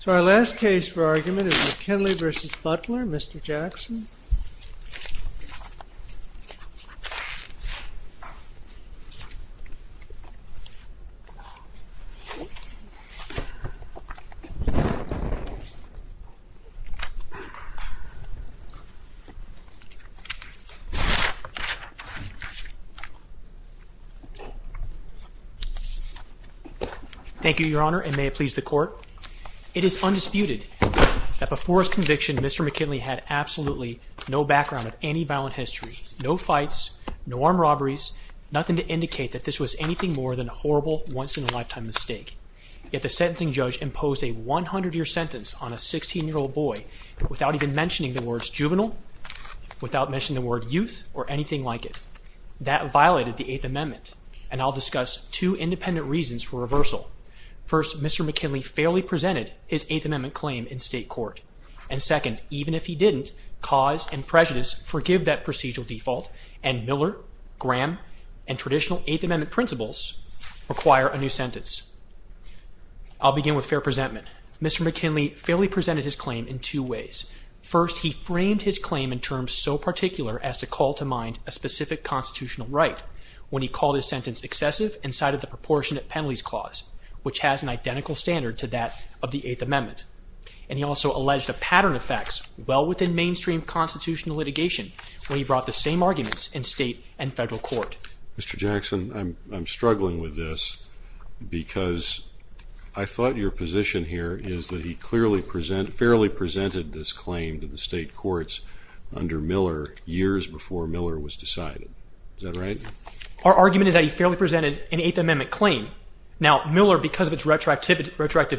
So our last case for argument is McKinley v. Butler. Mr. Jackson. Thank you, Your Honor, and may it please the court. It is undisputed that before his testimony, no background of any violent history, no fights, no armed robberies, nothing to indicate that this was anything more than a horrible once-in-a-lifetime mistake. Yet the sentencing judge imposed a 100-year sentence on a 16-year-old boy without even mentioning the words juvenile, without mentioning the word youth, or anything like it. That violated the Eighth Amendment. And I'll discuss two independent reasons for reversal. First, Mr. McKinley fairly presented his Eighth Amendment claim in state court. And second, even if he didn't, cause and prejudice forgive that procedural default, and Miller, Graham, and traditional Eighth Amendment principles require a new sentence. I'll begin with fair presentment. Mr. McKinley fairly presented his claim in two ways. First, he framed his claim in terms so particular as to call to mind a specific constitutional right when he called his sentence excessive and cited the proportionate penalties clause, which has an identical standard to that of the Eighth Amendment. And he also alleged a pattern of facts well within mainstream constitutional litigation when he brought the same arguments in state and federal court. Mr. Jackson, I'm struggling with this because I thought your position here is that he clearly presented, fairly presented this claim to the state courts under Miller years before Miller was decided. Is that right? Our argument is that he fairly presented an attractive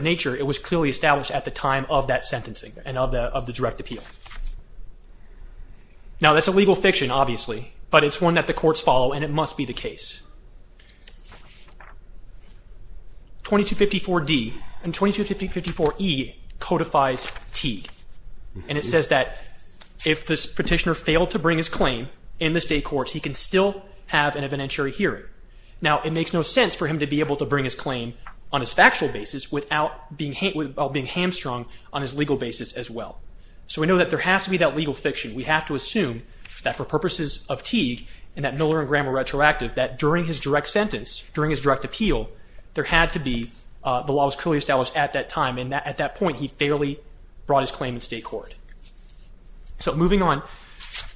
nature. It was clearly established at the time of that sentencing and of the direct appeal. Now, that's a legal fiction, obviously, but it's one that the courts follow and it must be the case. 2254D and 2254E codifies Teague. And it says that if this petitioner failed to bring his claim in the state courts, he can still have an evidentiary hearing. Now, it makes no sense for him to be able to bring his claim on his factual basis without being hamstrung on his legal basis as well. So we know that there has to be that legal fiction. We have to assume that for purposes of Teague and that Miller and Graham were retroactive that during his direct sentence, during his direct appeal, there had to be the law was clearly established at that time. And at that point, he fairly brought his claim in state court. So moving on,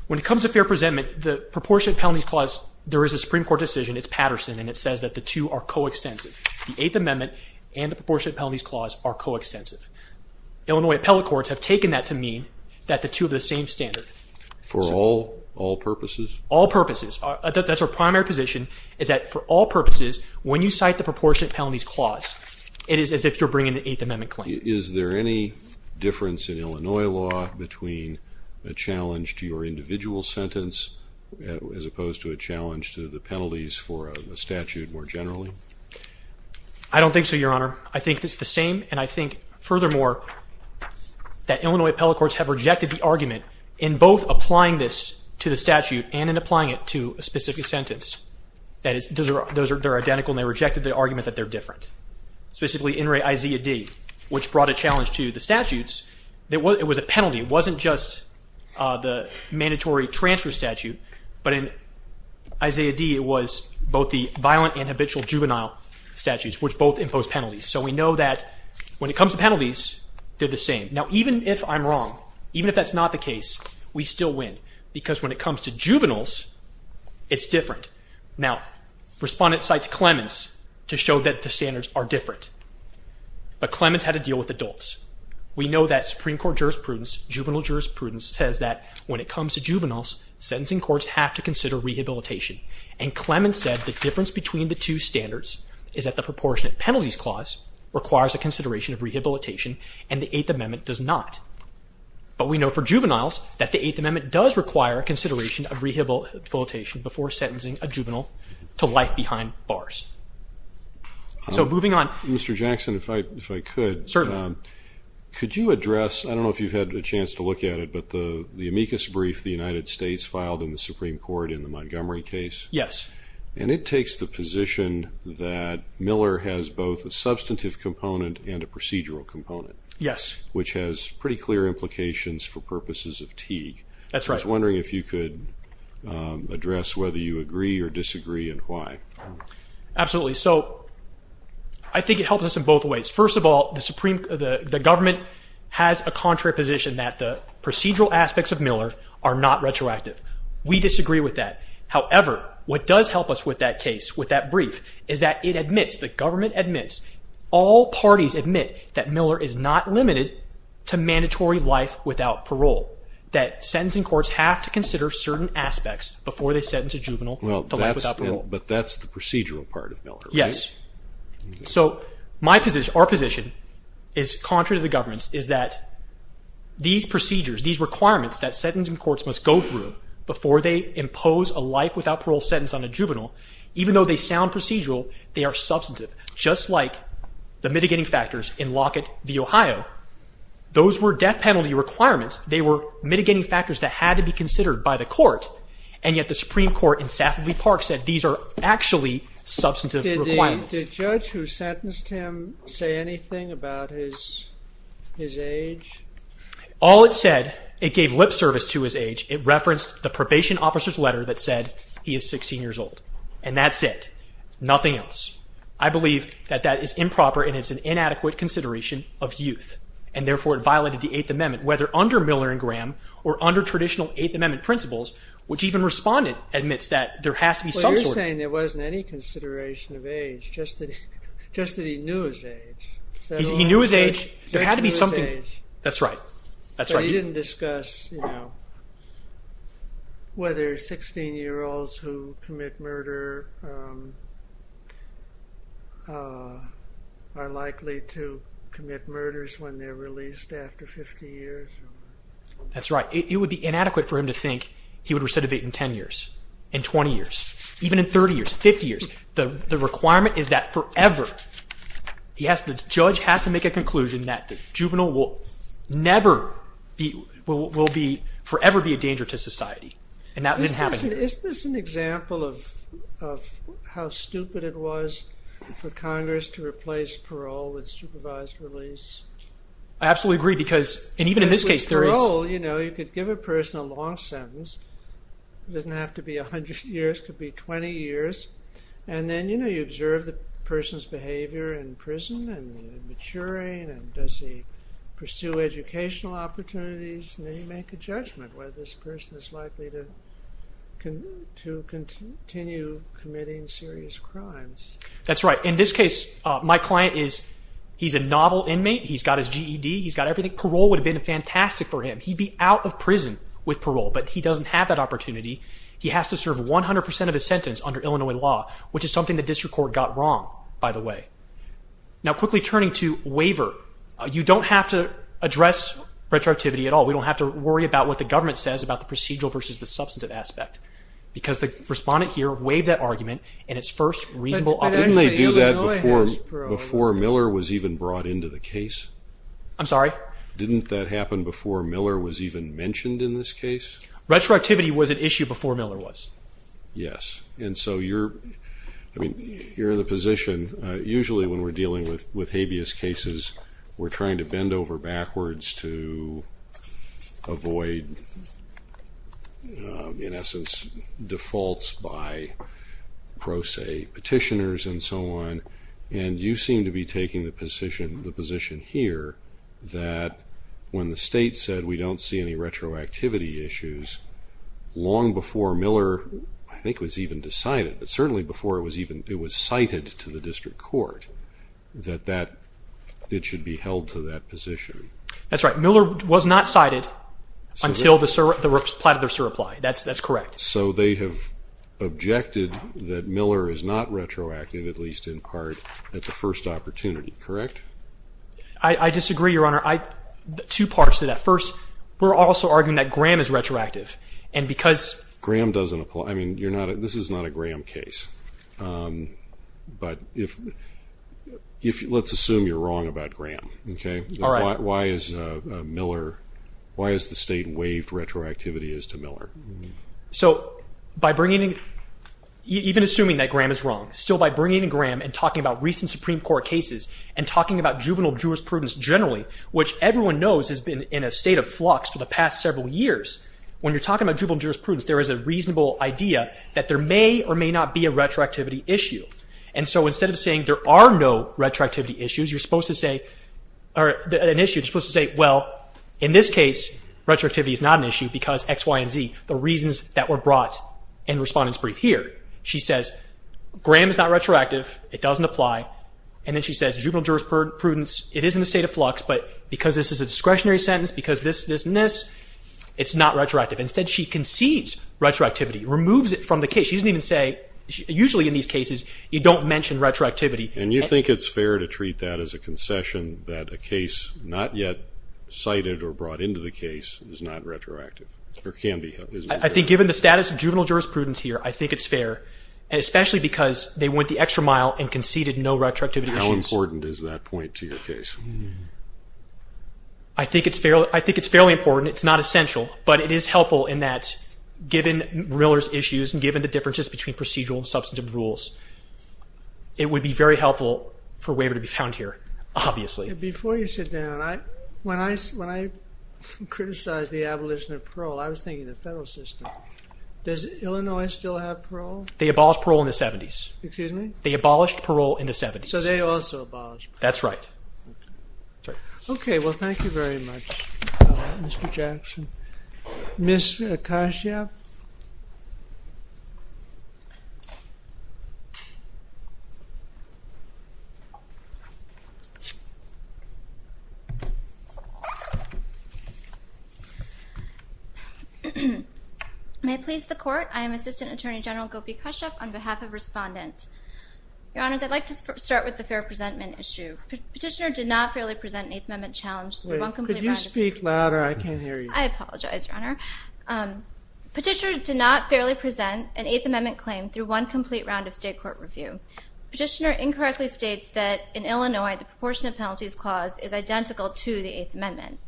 when it comes to fair presentment, the proportionate penalties clause, there is a Supreme Court decision, it's Patterson, and it says that the two are coextensive. The Eighth Amendment and the proportionate penalties clause are coextensive. Illinois appellate courts have taken that to mean that the two are the same standard. For all purposes? All purposes. That's our primary position is that for all purposes, when you cite the proportionate penalties clause, it is as if you're bringing an Eighth Amendment claim. Is there any difference in Illinois law between a challenge to your individual sentence as opposed to a challenge to the penalties for a statute more generally? I don't think so, Your Honor. I think it's the same, and I think furthermore that Illinois appellate courts have rejected the argument in both applying this to the statute and in applying it to a specific sentence. Those are identical, and they rejected the argument that they're different. Specifically, in re Isaiah D., which brought a challenge to the transfer statute, but in Isaiah D., it was both the violent and habitual juvenile statutes, which both impose penalties. So we know that when it comes to penalties, they're the same. Now, even if I'm wrong, even if that's not the case, we still win because when it comes to juveniles, it's different. Now, Respondent cites Clemens to show that the standards are different, but Clemens had to deal with adults. We know that Supreme Court jurisprudence, juvenile jurisprudence, says that when it comes to juveniles, sentencing courts have to consider rehabilitation, and Clemens said the difference between the two standards is that the proportionate penalties clause requires a consideration of rehabilitation, and the Eighth Amendment does not. But we know for juveniles that the Eighth Amendment does require a consideration of rehabilitation before sentencing a juvenile to life behind bars. So moving on, I think it helps us in both ways. First of all, the government has a contrary position that the procedural aspects of Miller are not retroactive. We disagree with that. However, what does help us with that brief is that it admits, the government admits, all parties admit that Miller is not limited to mandatory life without parole, that sentencing courts have to consider certain aspects before they sentence a juvenile to life without parole. But that's the procedural part of Miller, right? Yes. So our position is contrary to that. Our position is that these procedures, these requirements that sentencing courts must go through before they impose a life without parole sentence on a juvenile, even though they sound procedural, they are substantive. Just like the mitigating factors in Lockett v. Ohio, those were death penalty requirements. They were mitigating factors that had to be considered by the court, and yet the Supreme Court in Safford v. Park said these are actually substantive requirements. Did the judge who sentenced him say anything about his age? All it said, it gave lip service to his age. It referenced the probation officer's letter that said he is 16 years old. And that's it. Nothing else. I believe that that is improper and it's an inadequate consideration of youth, and therefore it violated the Eighth Amendment, whether under Miller and Graham or under traditional Eighth Amendment principles, which even Respondent admits that there has to be some sort of... Well, you're saying there wasn't any consideration of age, just that he knew his age. He knew his age. There had to be something... That's right. But he didn't discuss whether 16-year-olds who commit murder are likely to commit murders when they're released after 50 years. That's right. It would be inadequate for him to think he would recidivate in 10 years, in 20 years, even in 30 years, 50 years. The requirement is that forever, the judge has to make a conclusion that the juvenile will never be, will forever be a danger to society. And that didn't happen here. Isn't this an example of how stupid it was for Congress to replace parole with supervised release? I absolutely agree because, and even in this case, there is... It's a long sentence. It doesn't have to be 100 years. It could be 20 years. And then you observe the person's behavior in prison and maturing and does he pursue educational opportunities and then you make a judgment whether this person is likely to continue committing serious crimes. That's right. In this case, my client is... He's a novel inmate. He's got his GED. He's been fantastic for him. He'd be out of prison with parole, but he doesn't have that opportunity. He has to serve 100% of his sentence under Illinois law, which is something the district court got wrong, by the way. Now quickly turning to waiver, you don't have to address retroactivity at all. We don't have to worry about what the government says about the procedural versus the substantive aspect because the respondent here waived that argument in its first reasonable... But didn't they do that before Miller was even brought into the case? I'm sorry? Didn't that happen before Miller was even mentioned in this case? Retroactivity was an issue before Miller was. Yes. And so you're in the position... Usually when we're dealing with habeas cases, we're trying to bend over backwards to avoid, in essence, defaults by pro se petitioners and so on. And you seem to be taking the position here that when the state said we don't see any retroactivity issues, long before Miller, I think, was even decided, but certainly before it was cited to the district court, that it should be held to that position. That's right. Miller was not cited until the reply. That's correct. So they have objected that Miller is not retroactive, at least in part, at the first opportunity, correct? I disagree, Your Honor. Two parts to that. First, we're also arguing that Graham is retroactive. And because... Graham doesn't apply. I mean, this is not a Graham case. But let's assume you're wrong about Graham. Why has the state waived retroactivity as to Miller? So by bringing in... Even assuming that Graham is wrong, still by bringing in Graham and talking about recent Supreme Court cases and talking about juvenile jurisprudence generally, which everyone knows has been in a state of flux for the past several years, when you're talking about juvenile jurisprudence, there is a reasonable idea that there may or may not be a retroactivity issue. And so instead of saying there are no retroactivity issues, you're supposed to say... Well, in this case, retroactivity is not an issue because X, Y, and Z, the reasons that were brought in Respondent's Brief here. She says Graham is not retroactive. It doesn't apply. And then she says juvenile jurisprudence, it is in a state of flux, but because this is a discretionary sentence, because this, this, and this, it's not retroactive. Instead, she concedes retroactivity, removes it from the case. She doesn't even say... Usually in these cases, you don't mention retroactivity. And you think it's fair to treat that as a concession that a case not yet cited or brought into the case is not retroactive, or can be? I think given the status of juvenile jurisprudence here, I think it's fair, especially because they went the extra mile and conceded no retroactivity issues. How important is that point to your case? I think it's fairly important. It's not essential. But it is helpful in that given Miller's issues and given the differences between procedural and substantive rules, it would be very helpful for a waiver to be found here, obviously. Before you sit down, when I criticized the abolition of parole, I was thinking the federal system. Does Illinois still have parole? They abolished parole in the 70s. Excuse me? They abolished parole in the 70s. So they also abolished parole. That's right. Okay. Well, thank you very much, Mr. Jackson. Ms. Akashia? May it please the Court? I am Assistant Attorney General Gopi Kashyap on behalf of Respondent. Your Honors, I'd like to start with the fair presentment issue. Petitioner did not fairly present an Eighth Amendment challenge through one complete round of state court review. Wait. Could you speak louder? I can't hear you. I apologize, Your Honor. Petitioner did not fairly present an Eighth Amendment claim through one complete round of state court review. Petitioner incorrectly states that in Illinois, the proportionate penalties clause is identical to the Eighth Amendment.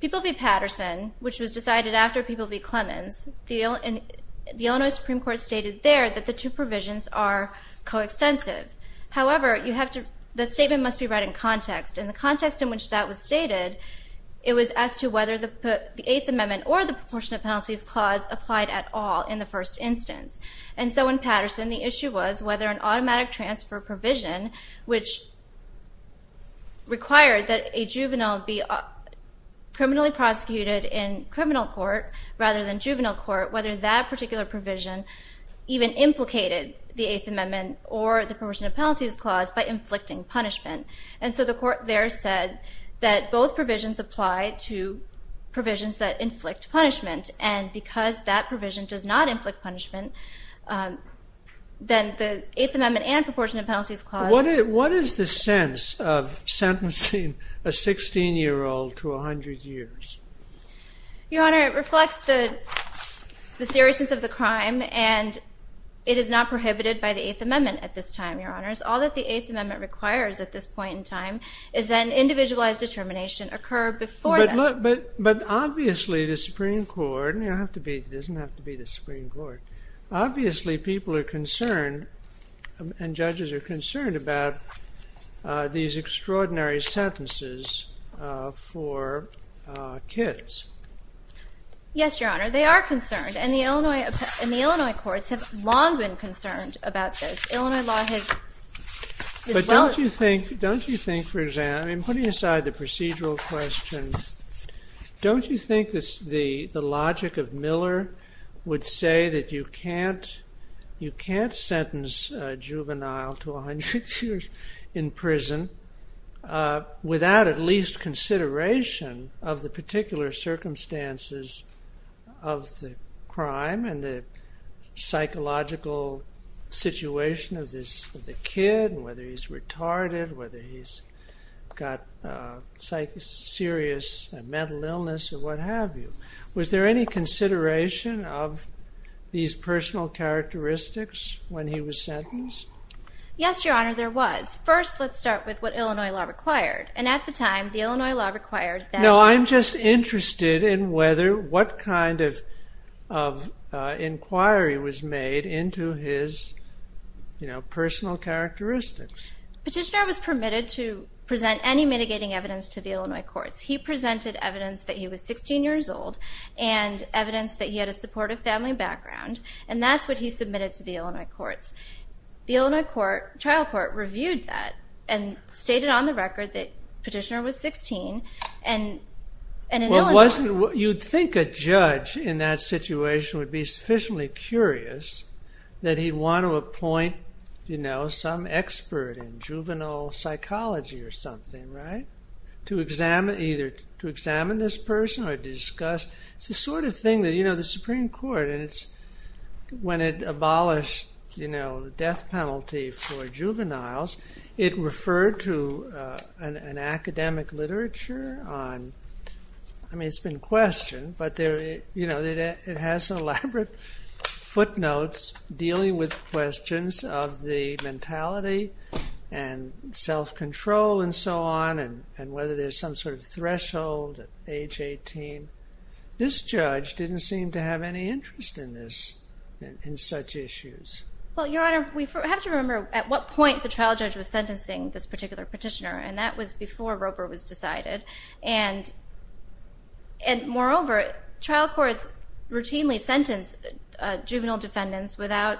People v. Patterson, which was decided after People v. Clemens, the Illinois Supreme Court stated there that the two provisions are coextensive. However, you have to—that statement must be read in context, and the context in which that was stated, it was as to whether the Eighth Amendment or the proportionate penalties clause applied at all in the first instance. And so in Patterson, the issue was whether an automatic transfer provision, which required that a juvenile be criminally prosecuted in criminal court rather than juvenile court, whether that particular provision even implicated the Eighth Amendment or the proportionate penalties clause by inflicting punishment. And so the Court there said that both provisions apply to provisions that inflict punishment and because that provision does not inflict punishment, then the Eighth Amendment and proportionate penalties clause— What is the sense of sentencing a 16-year-old to 100 years? Your Honor, it reflects the seriousness of the crime, and it is not prohibited by the Eighth Amendment at this time, Your Honors. All that the Eighth Amendment requires at this point in time is that an individualized determination occur before then. But obviously the Supreme Court—it doesn't have to be the Supreme Court—obviously people are concerned, and judges are concerned, about these extraordinary sentences for kids. Yes, Your Honor, they are concerned, and the Illinois courts have long been concerned about this. Illinois law has— Don't you think, for example—putting aside the procedural question—don't you think the logic of Miller would say that you can't sentence a juvenile to 100 years in prison without at least consideration of the particular circumstances of the crime and the psychological situation of the kid, whether he's retarded, whether he's got serious mental illness or what have you? Was there any consideration of these personal characteristics when he was sentenced? Yes, Your Honor, there was. First, let's start with what Illinois law required, and at the time, the Illinois law required that— No, I'm just interested in whether—what kind of inquiry was made into his sentence. His personal characteristics. Petitioner was permitted to present any mitigating evidence to the Illinois courts. He presented evidence that he was 16 years old, and evidence that he had a supportive family background, and that's what he submitted to the Illinois courts. The Illinois trial court reviewed that and stated on the record that Petitioner was 16, and in Illinois law— You'd think a judge in that situation would be sufficiently curious that he'd want to appoint some expert in juvenile psychology or something, right? To examine this person or discuss—it's the sort of thing that the Supreme Court, when it abolished the death penalty for juveniles, it referred to an academic literature on—I mean, it's been referred to in question, but it has elaborate footnotes dealing with questions of the mentality and self-control and so on, and whether there's some sort of threshold at age 18. This judge didn't seem to have any interest in this, in such issues. Well, Your Honor, we have to remember at what point the trial judge was sentencing this juvenile defendant. Moreover, trial courts routinely sentence juvenile defendants without—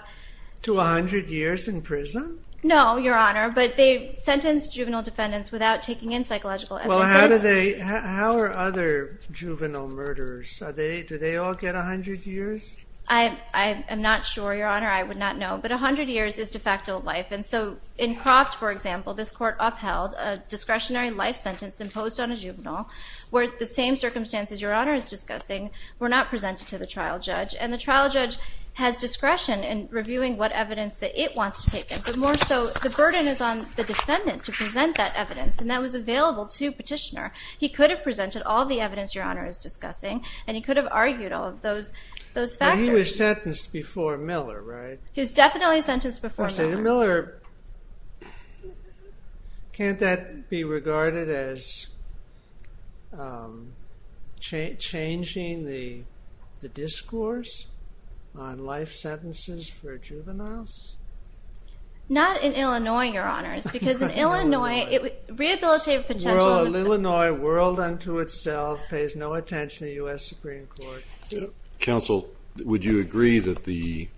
To 100 years in prison? No, Your Honor, but they sentence juvenile defendants without taking in psychological evidence. Well, how are other juvenile murderers? Do they all get 100 years? I am not sure, Your Honor. I would not know, but 100 years is de facto life. In Croft, for example, this court upheld a discretionary life sentence imposed on a juvenile where the same circumstances Your Honor is discussing were not presented to the trial judge, and the trial judge has discretion in reviewing what evidence that it wants to take in, but more so the burden is on the defendant to present that evidence, and that was available to Petitioner. He could have presented all the evidence Your Honor is discussing, and he could have argued all of those factors. But he was sentenced before Miller, right? He was definitely sentenced before Miller. Counsel, to Miller, can't that be regarded as changing the discourse on life sentences for juveniles? Not in Illinois, Your Honors, because in Illinois, rehabilitative potential— Illinois whirled unto itself, pays no attention to the U.S. Supreme Court. Counsel, would you agree that the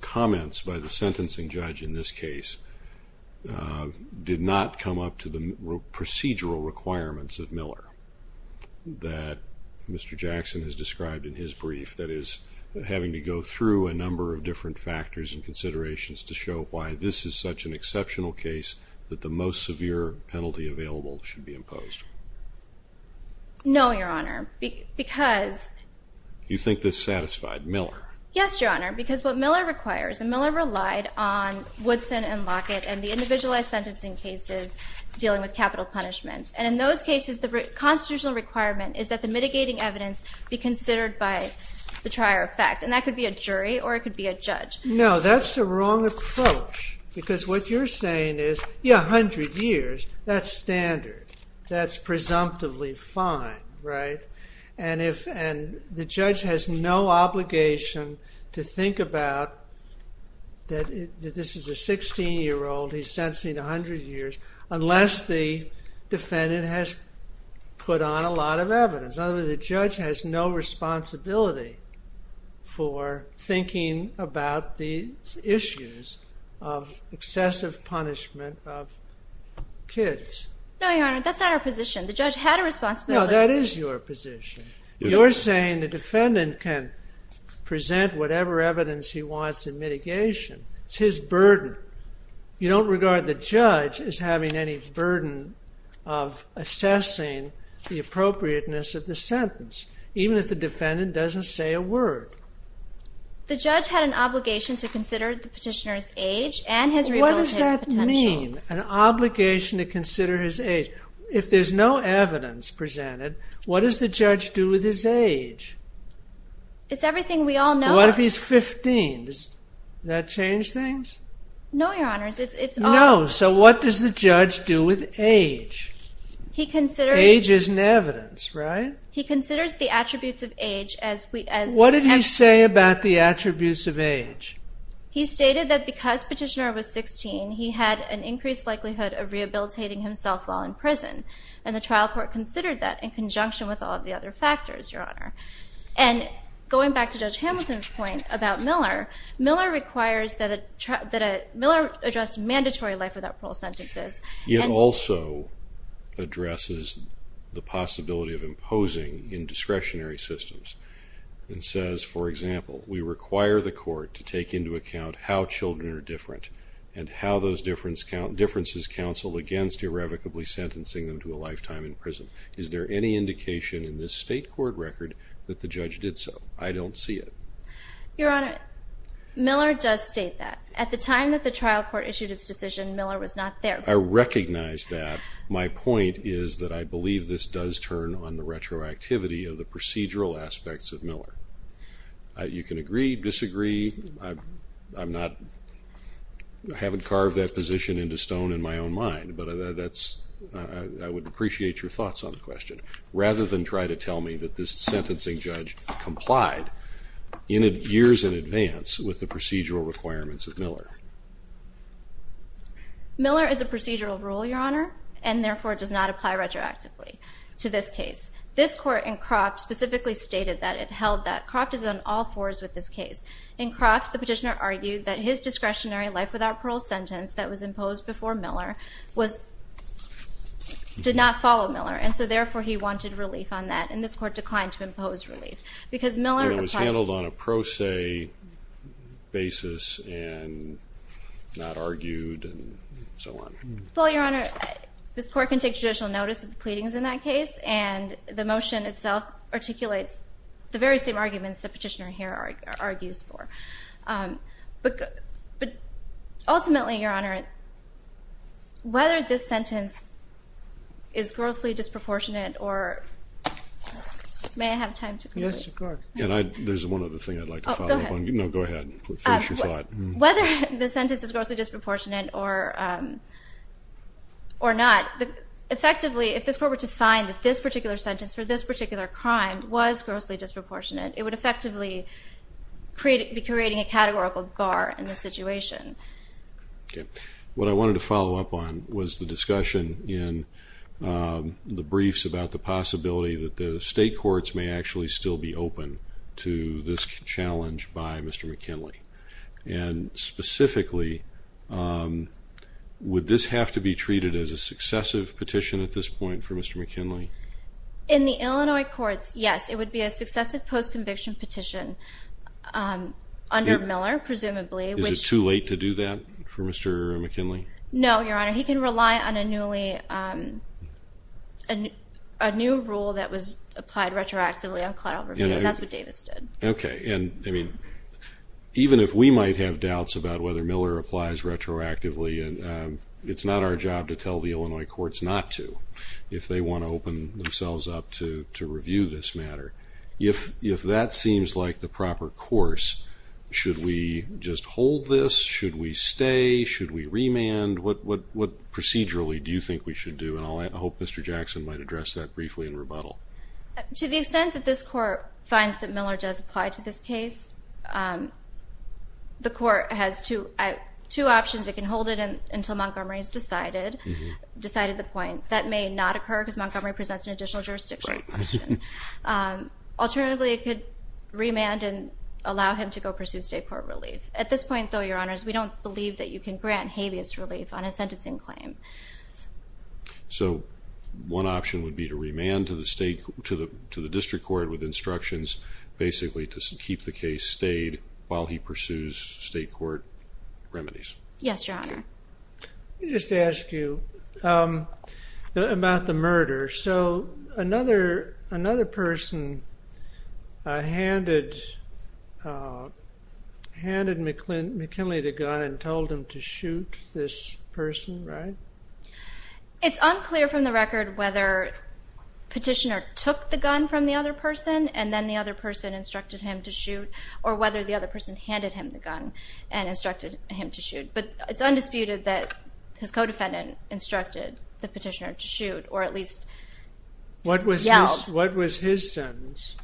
comments by the sentencing judge in this case did not come up to the procedural requirements of Miller that Mr. Jackson has described in his brief, that is, having to go through a number of different factors and considerations to show why this is such an exceptional case that the most severe penalty available should be imposed? No, Your Honor, because— You think this satisfied Miller? Yes, Your Honor, because what Miller requires, and Miller relied on Woodson and Lockett and the individualized sentencing cases dealing with capital punishment. And in those cases, the constitutional requirement is that the mitigating evidence be considered by the trier effect, and that could be a jury or it could be a judge. No, that's the wrong approach, because what you're saying is, yeah, 100 years, that's presumptively fine, right? And the judge has no obligation to think about that this is a 16-year-old, he's sentencing 100 years, unless the defendant has put on a lot of evidence. In other words, the judge has no responsibility for thinking about these issues of excessive punishment of kids. No, Your Honor, that's not our position. The judge had a responsibility. No, that is your position. You're saying the defendant can present whatever evidence he wants in mitigation. It's his burden. You don't regard the judge as having any burden of assessing the appropriateness of the sentence, even if the defendant doesn't say a word. The judge had an obligation to consider the petitioner's age and his rehabilitative potential. An obligation to consider his age. If there's no evidence presented, what does the judge do with his age? It's everything we all know. What if he's 15? Does that change things? No, Your Honor. No, so what does the judge do with age? Age isn't evidence, right? He considers the attributes of age as... What did he say about the attributes of age? He stated that because petitioner was 16, he had an increased likelihood of rehabilitating himself while in prison, and the trial court considered that in conjunction with all of the other factors, Your Honor. And going back to Judge Hamilton's point about Miller, Miller addressed mandatory life without parole sentences. It also addresses the possibility of imposing in discretionary systems and says, for example, we require the court to take into account how children are different and how those differences counsel against irrevocably sentencing them to a lifetime in prison. Is there any indication in this state court record that the judge did so? I don't see it. Your Honor, Miller does state that. At the time that the trial court issued its decision, Miller was not there. I recognize that. My point is that I believe this does turn on the retroactivity of the procedural aspects of Miller. You can agree, disagree. I'm not... I haven't carved that position into stone in my own mind, but that's... I would appreciate your thoughts on the question rather than try to tell me that this sentencing judge complied years in advance with the procedural requirements of Miller. Miller is a procedural rule, Your Honor, and therefore does not apply retroactively to this case. This court in Croft specifically stated that it held that Croft is on all fours with this In Croft, the petitioner argued that his discretionary life without parole sentence that was imposed before Miller was... did not follow Miller, and so therefore he wanted relief on that, and this court declined to impose relief. Because Miller... And it was handled on a pro se basis and not argued and so on. Well, Your Honor, this court can take judicial notice of the pleadings in that case, and the motion itself articulates the very same arguments the petitioner here argues for. But ultimately, Your Honor, whether this sentence is grossly disproportionate or... May I have time to... Yes, of course. And I... There's one other thing I'd like to follow up on. Oh, go ahead. No, go ahead. Finish your thought. Whether the sentence is grossly disproportionate or not, effectively if this court were to determine that the sentence for this particular crime was grossly disproportionate, it would effectively be creating a categorical bar in the situation. Okay. What I wanted to follow up on was the discussion in the briefs about the possibility that the state courts may actually still be open to this challenge by Mr. McKinley. And specifically, would this have to be treated as a successive petition at this point for Mr. McKinley? In the Illinois courts, yes. It would be a successive post-conviction petition under Miller, presumably. Is it too late to do that for Mr. McKinley? No, Your Honor. He can rely on a new rule that was applied retroactively on cloud overview. That's what Davis did. Okay. And even if we might have doubts about whether Miller applies retroactively, it's not our job to tell the Illinois courts not to. If they want to open themselves up to review this matter, if that seems like the proper course, should we just hold this? Should we stay? Should we remand? What procedurally do you think we should do? And I hope Mr. Jackson might address that briefly in rebuttal. To the extent that this court finds that Miller does apply to this case, the court has two options. It can hold it until Montgomery has decided the point. That may not occur because Montgomery presents an additional jurisdiction question. Right. Alternatively, it could remand and allow him to go pursue state court relief. At this point, though, Your Honors, we don't believe that you can grant habeas relief on a sentencing claim. So one option would be to remand to the district court with instructions basically to keep the case stayed while he pursues state court remedies. Yes, Your Honor. Let me just ask you about the murder. So another person handed McKinley the gun and told him to shoot this person, right? It's unclear from the record whether Petitioner took the gun from the other person and then the other person instructed him to shoot or whether the other person handed him the gun and instructed him to shoot. But it's undisputed that his co-defendant instructed the Petitioner to shoot or at least yelled. What was his sentence?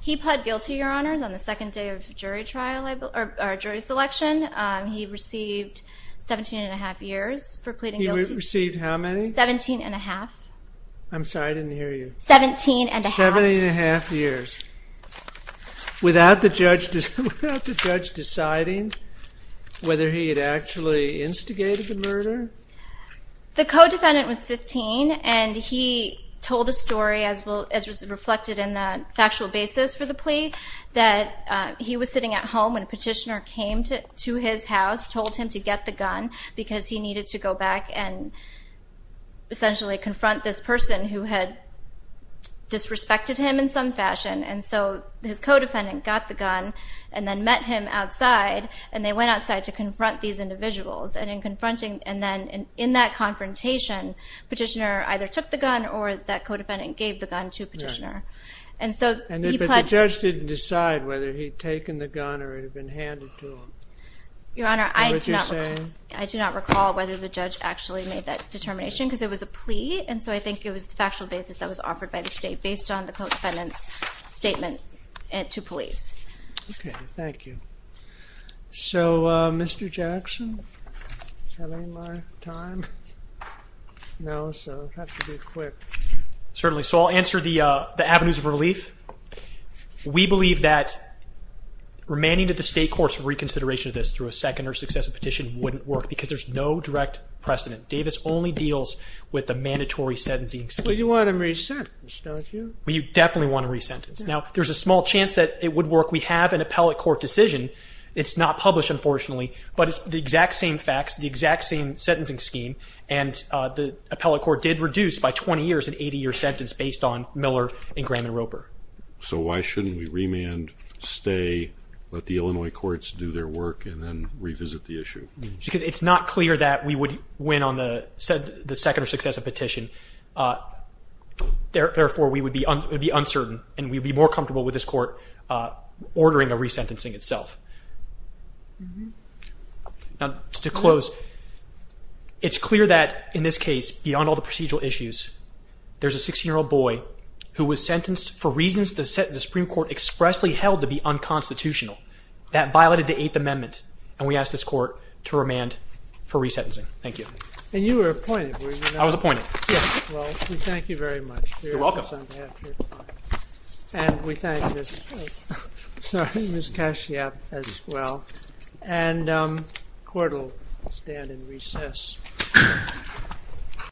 He pled guilty, Your Honors, on the second day of jury selection. He received 17 and a half years for pleading guilty. He received how many? 17 and a half. I'm sorry. I didn't hear you. 17 and a half. 17 and a half years. Without the judge deciding whether he had actually instigated the murder? The co-defendant was 15 and he told a story as was reflected in the factual basis for the plea that he was sitting at home when Petitioner came to his house, told him to get the gun because he needed to go back and essentially confront this person who had disrespected him in some fashion and so his co-defendant got the gun and then met him outside and they went outside to confront these individuals and in confronting and then in that confrontation, Petitioner either took the gun or that co-defendant gave the gun to Petitioner. But the judge didn't decide whether he'd taken the gun or it had been handed to him. Your Honor, I do not recall whether the judge actually made that determination because it was a plea and so I think it was the factual basis that was offered by the state based on the co-defendant's statement to police. Okay. Thank you. So, Mr. Jackson, do I have any more time? No, so I'll have to be quick. Certainly. So I'll answer the avenues of relief. We believe that remaining to the state court's reconsideration of this through a second or successive petition wouldn't work because there's no direct precedent. Davis only deals with the mandatory sentencing scheme. But you want him re-sentenced, don't you? Well, you definitely want him re-sentenced. Now, there's a small chance that it would work. We have an appellate court decision. It's not published, unfortunately, but it's the exact same facts, the exact same sentencing scheme and the appellate court did reduce by 20 years an 80-year sentence based on Miller and Graham and Roper. So why shouldn't we remand, stay, let the Illinois courts do their work and then revisit the issue? Because it's not clear that we would win on the second or successive petition. Therefore, we would be uncertain and we'd be more comfortable with this court ordering a re-sentencing itself. Now, to close, it's clear that in this case, beyond all the procedural issues, there's a 16-year-old boy who was sentenced for reasons the Supreme Court expressly held to be unconstitutional. That violated the Eighth Amendment and we ask this court to remand for re-sentencing. Thank you. And you were appointed, were you not? I was appointed. Yes. Well, we thank you very much. You're welcome. And we thank Ms. Kashyap as well. And the court will stand in recess.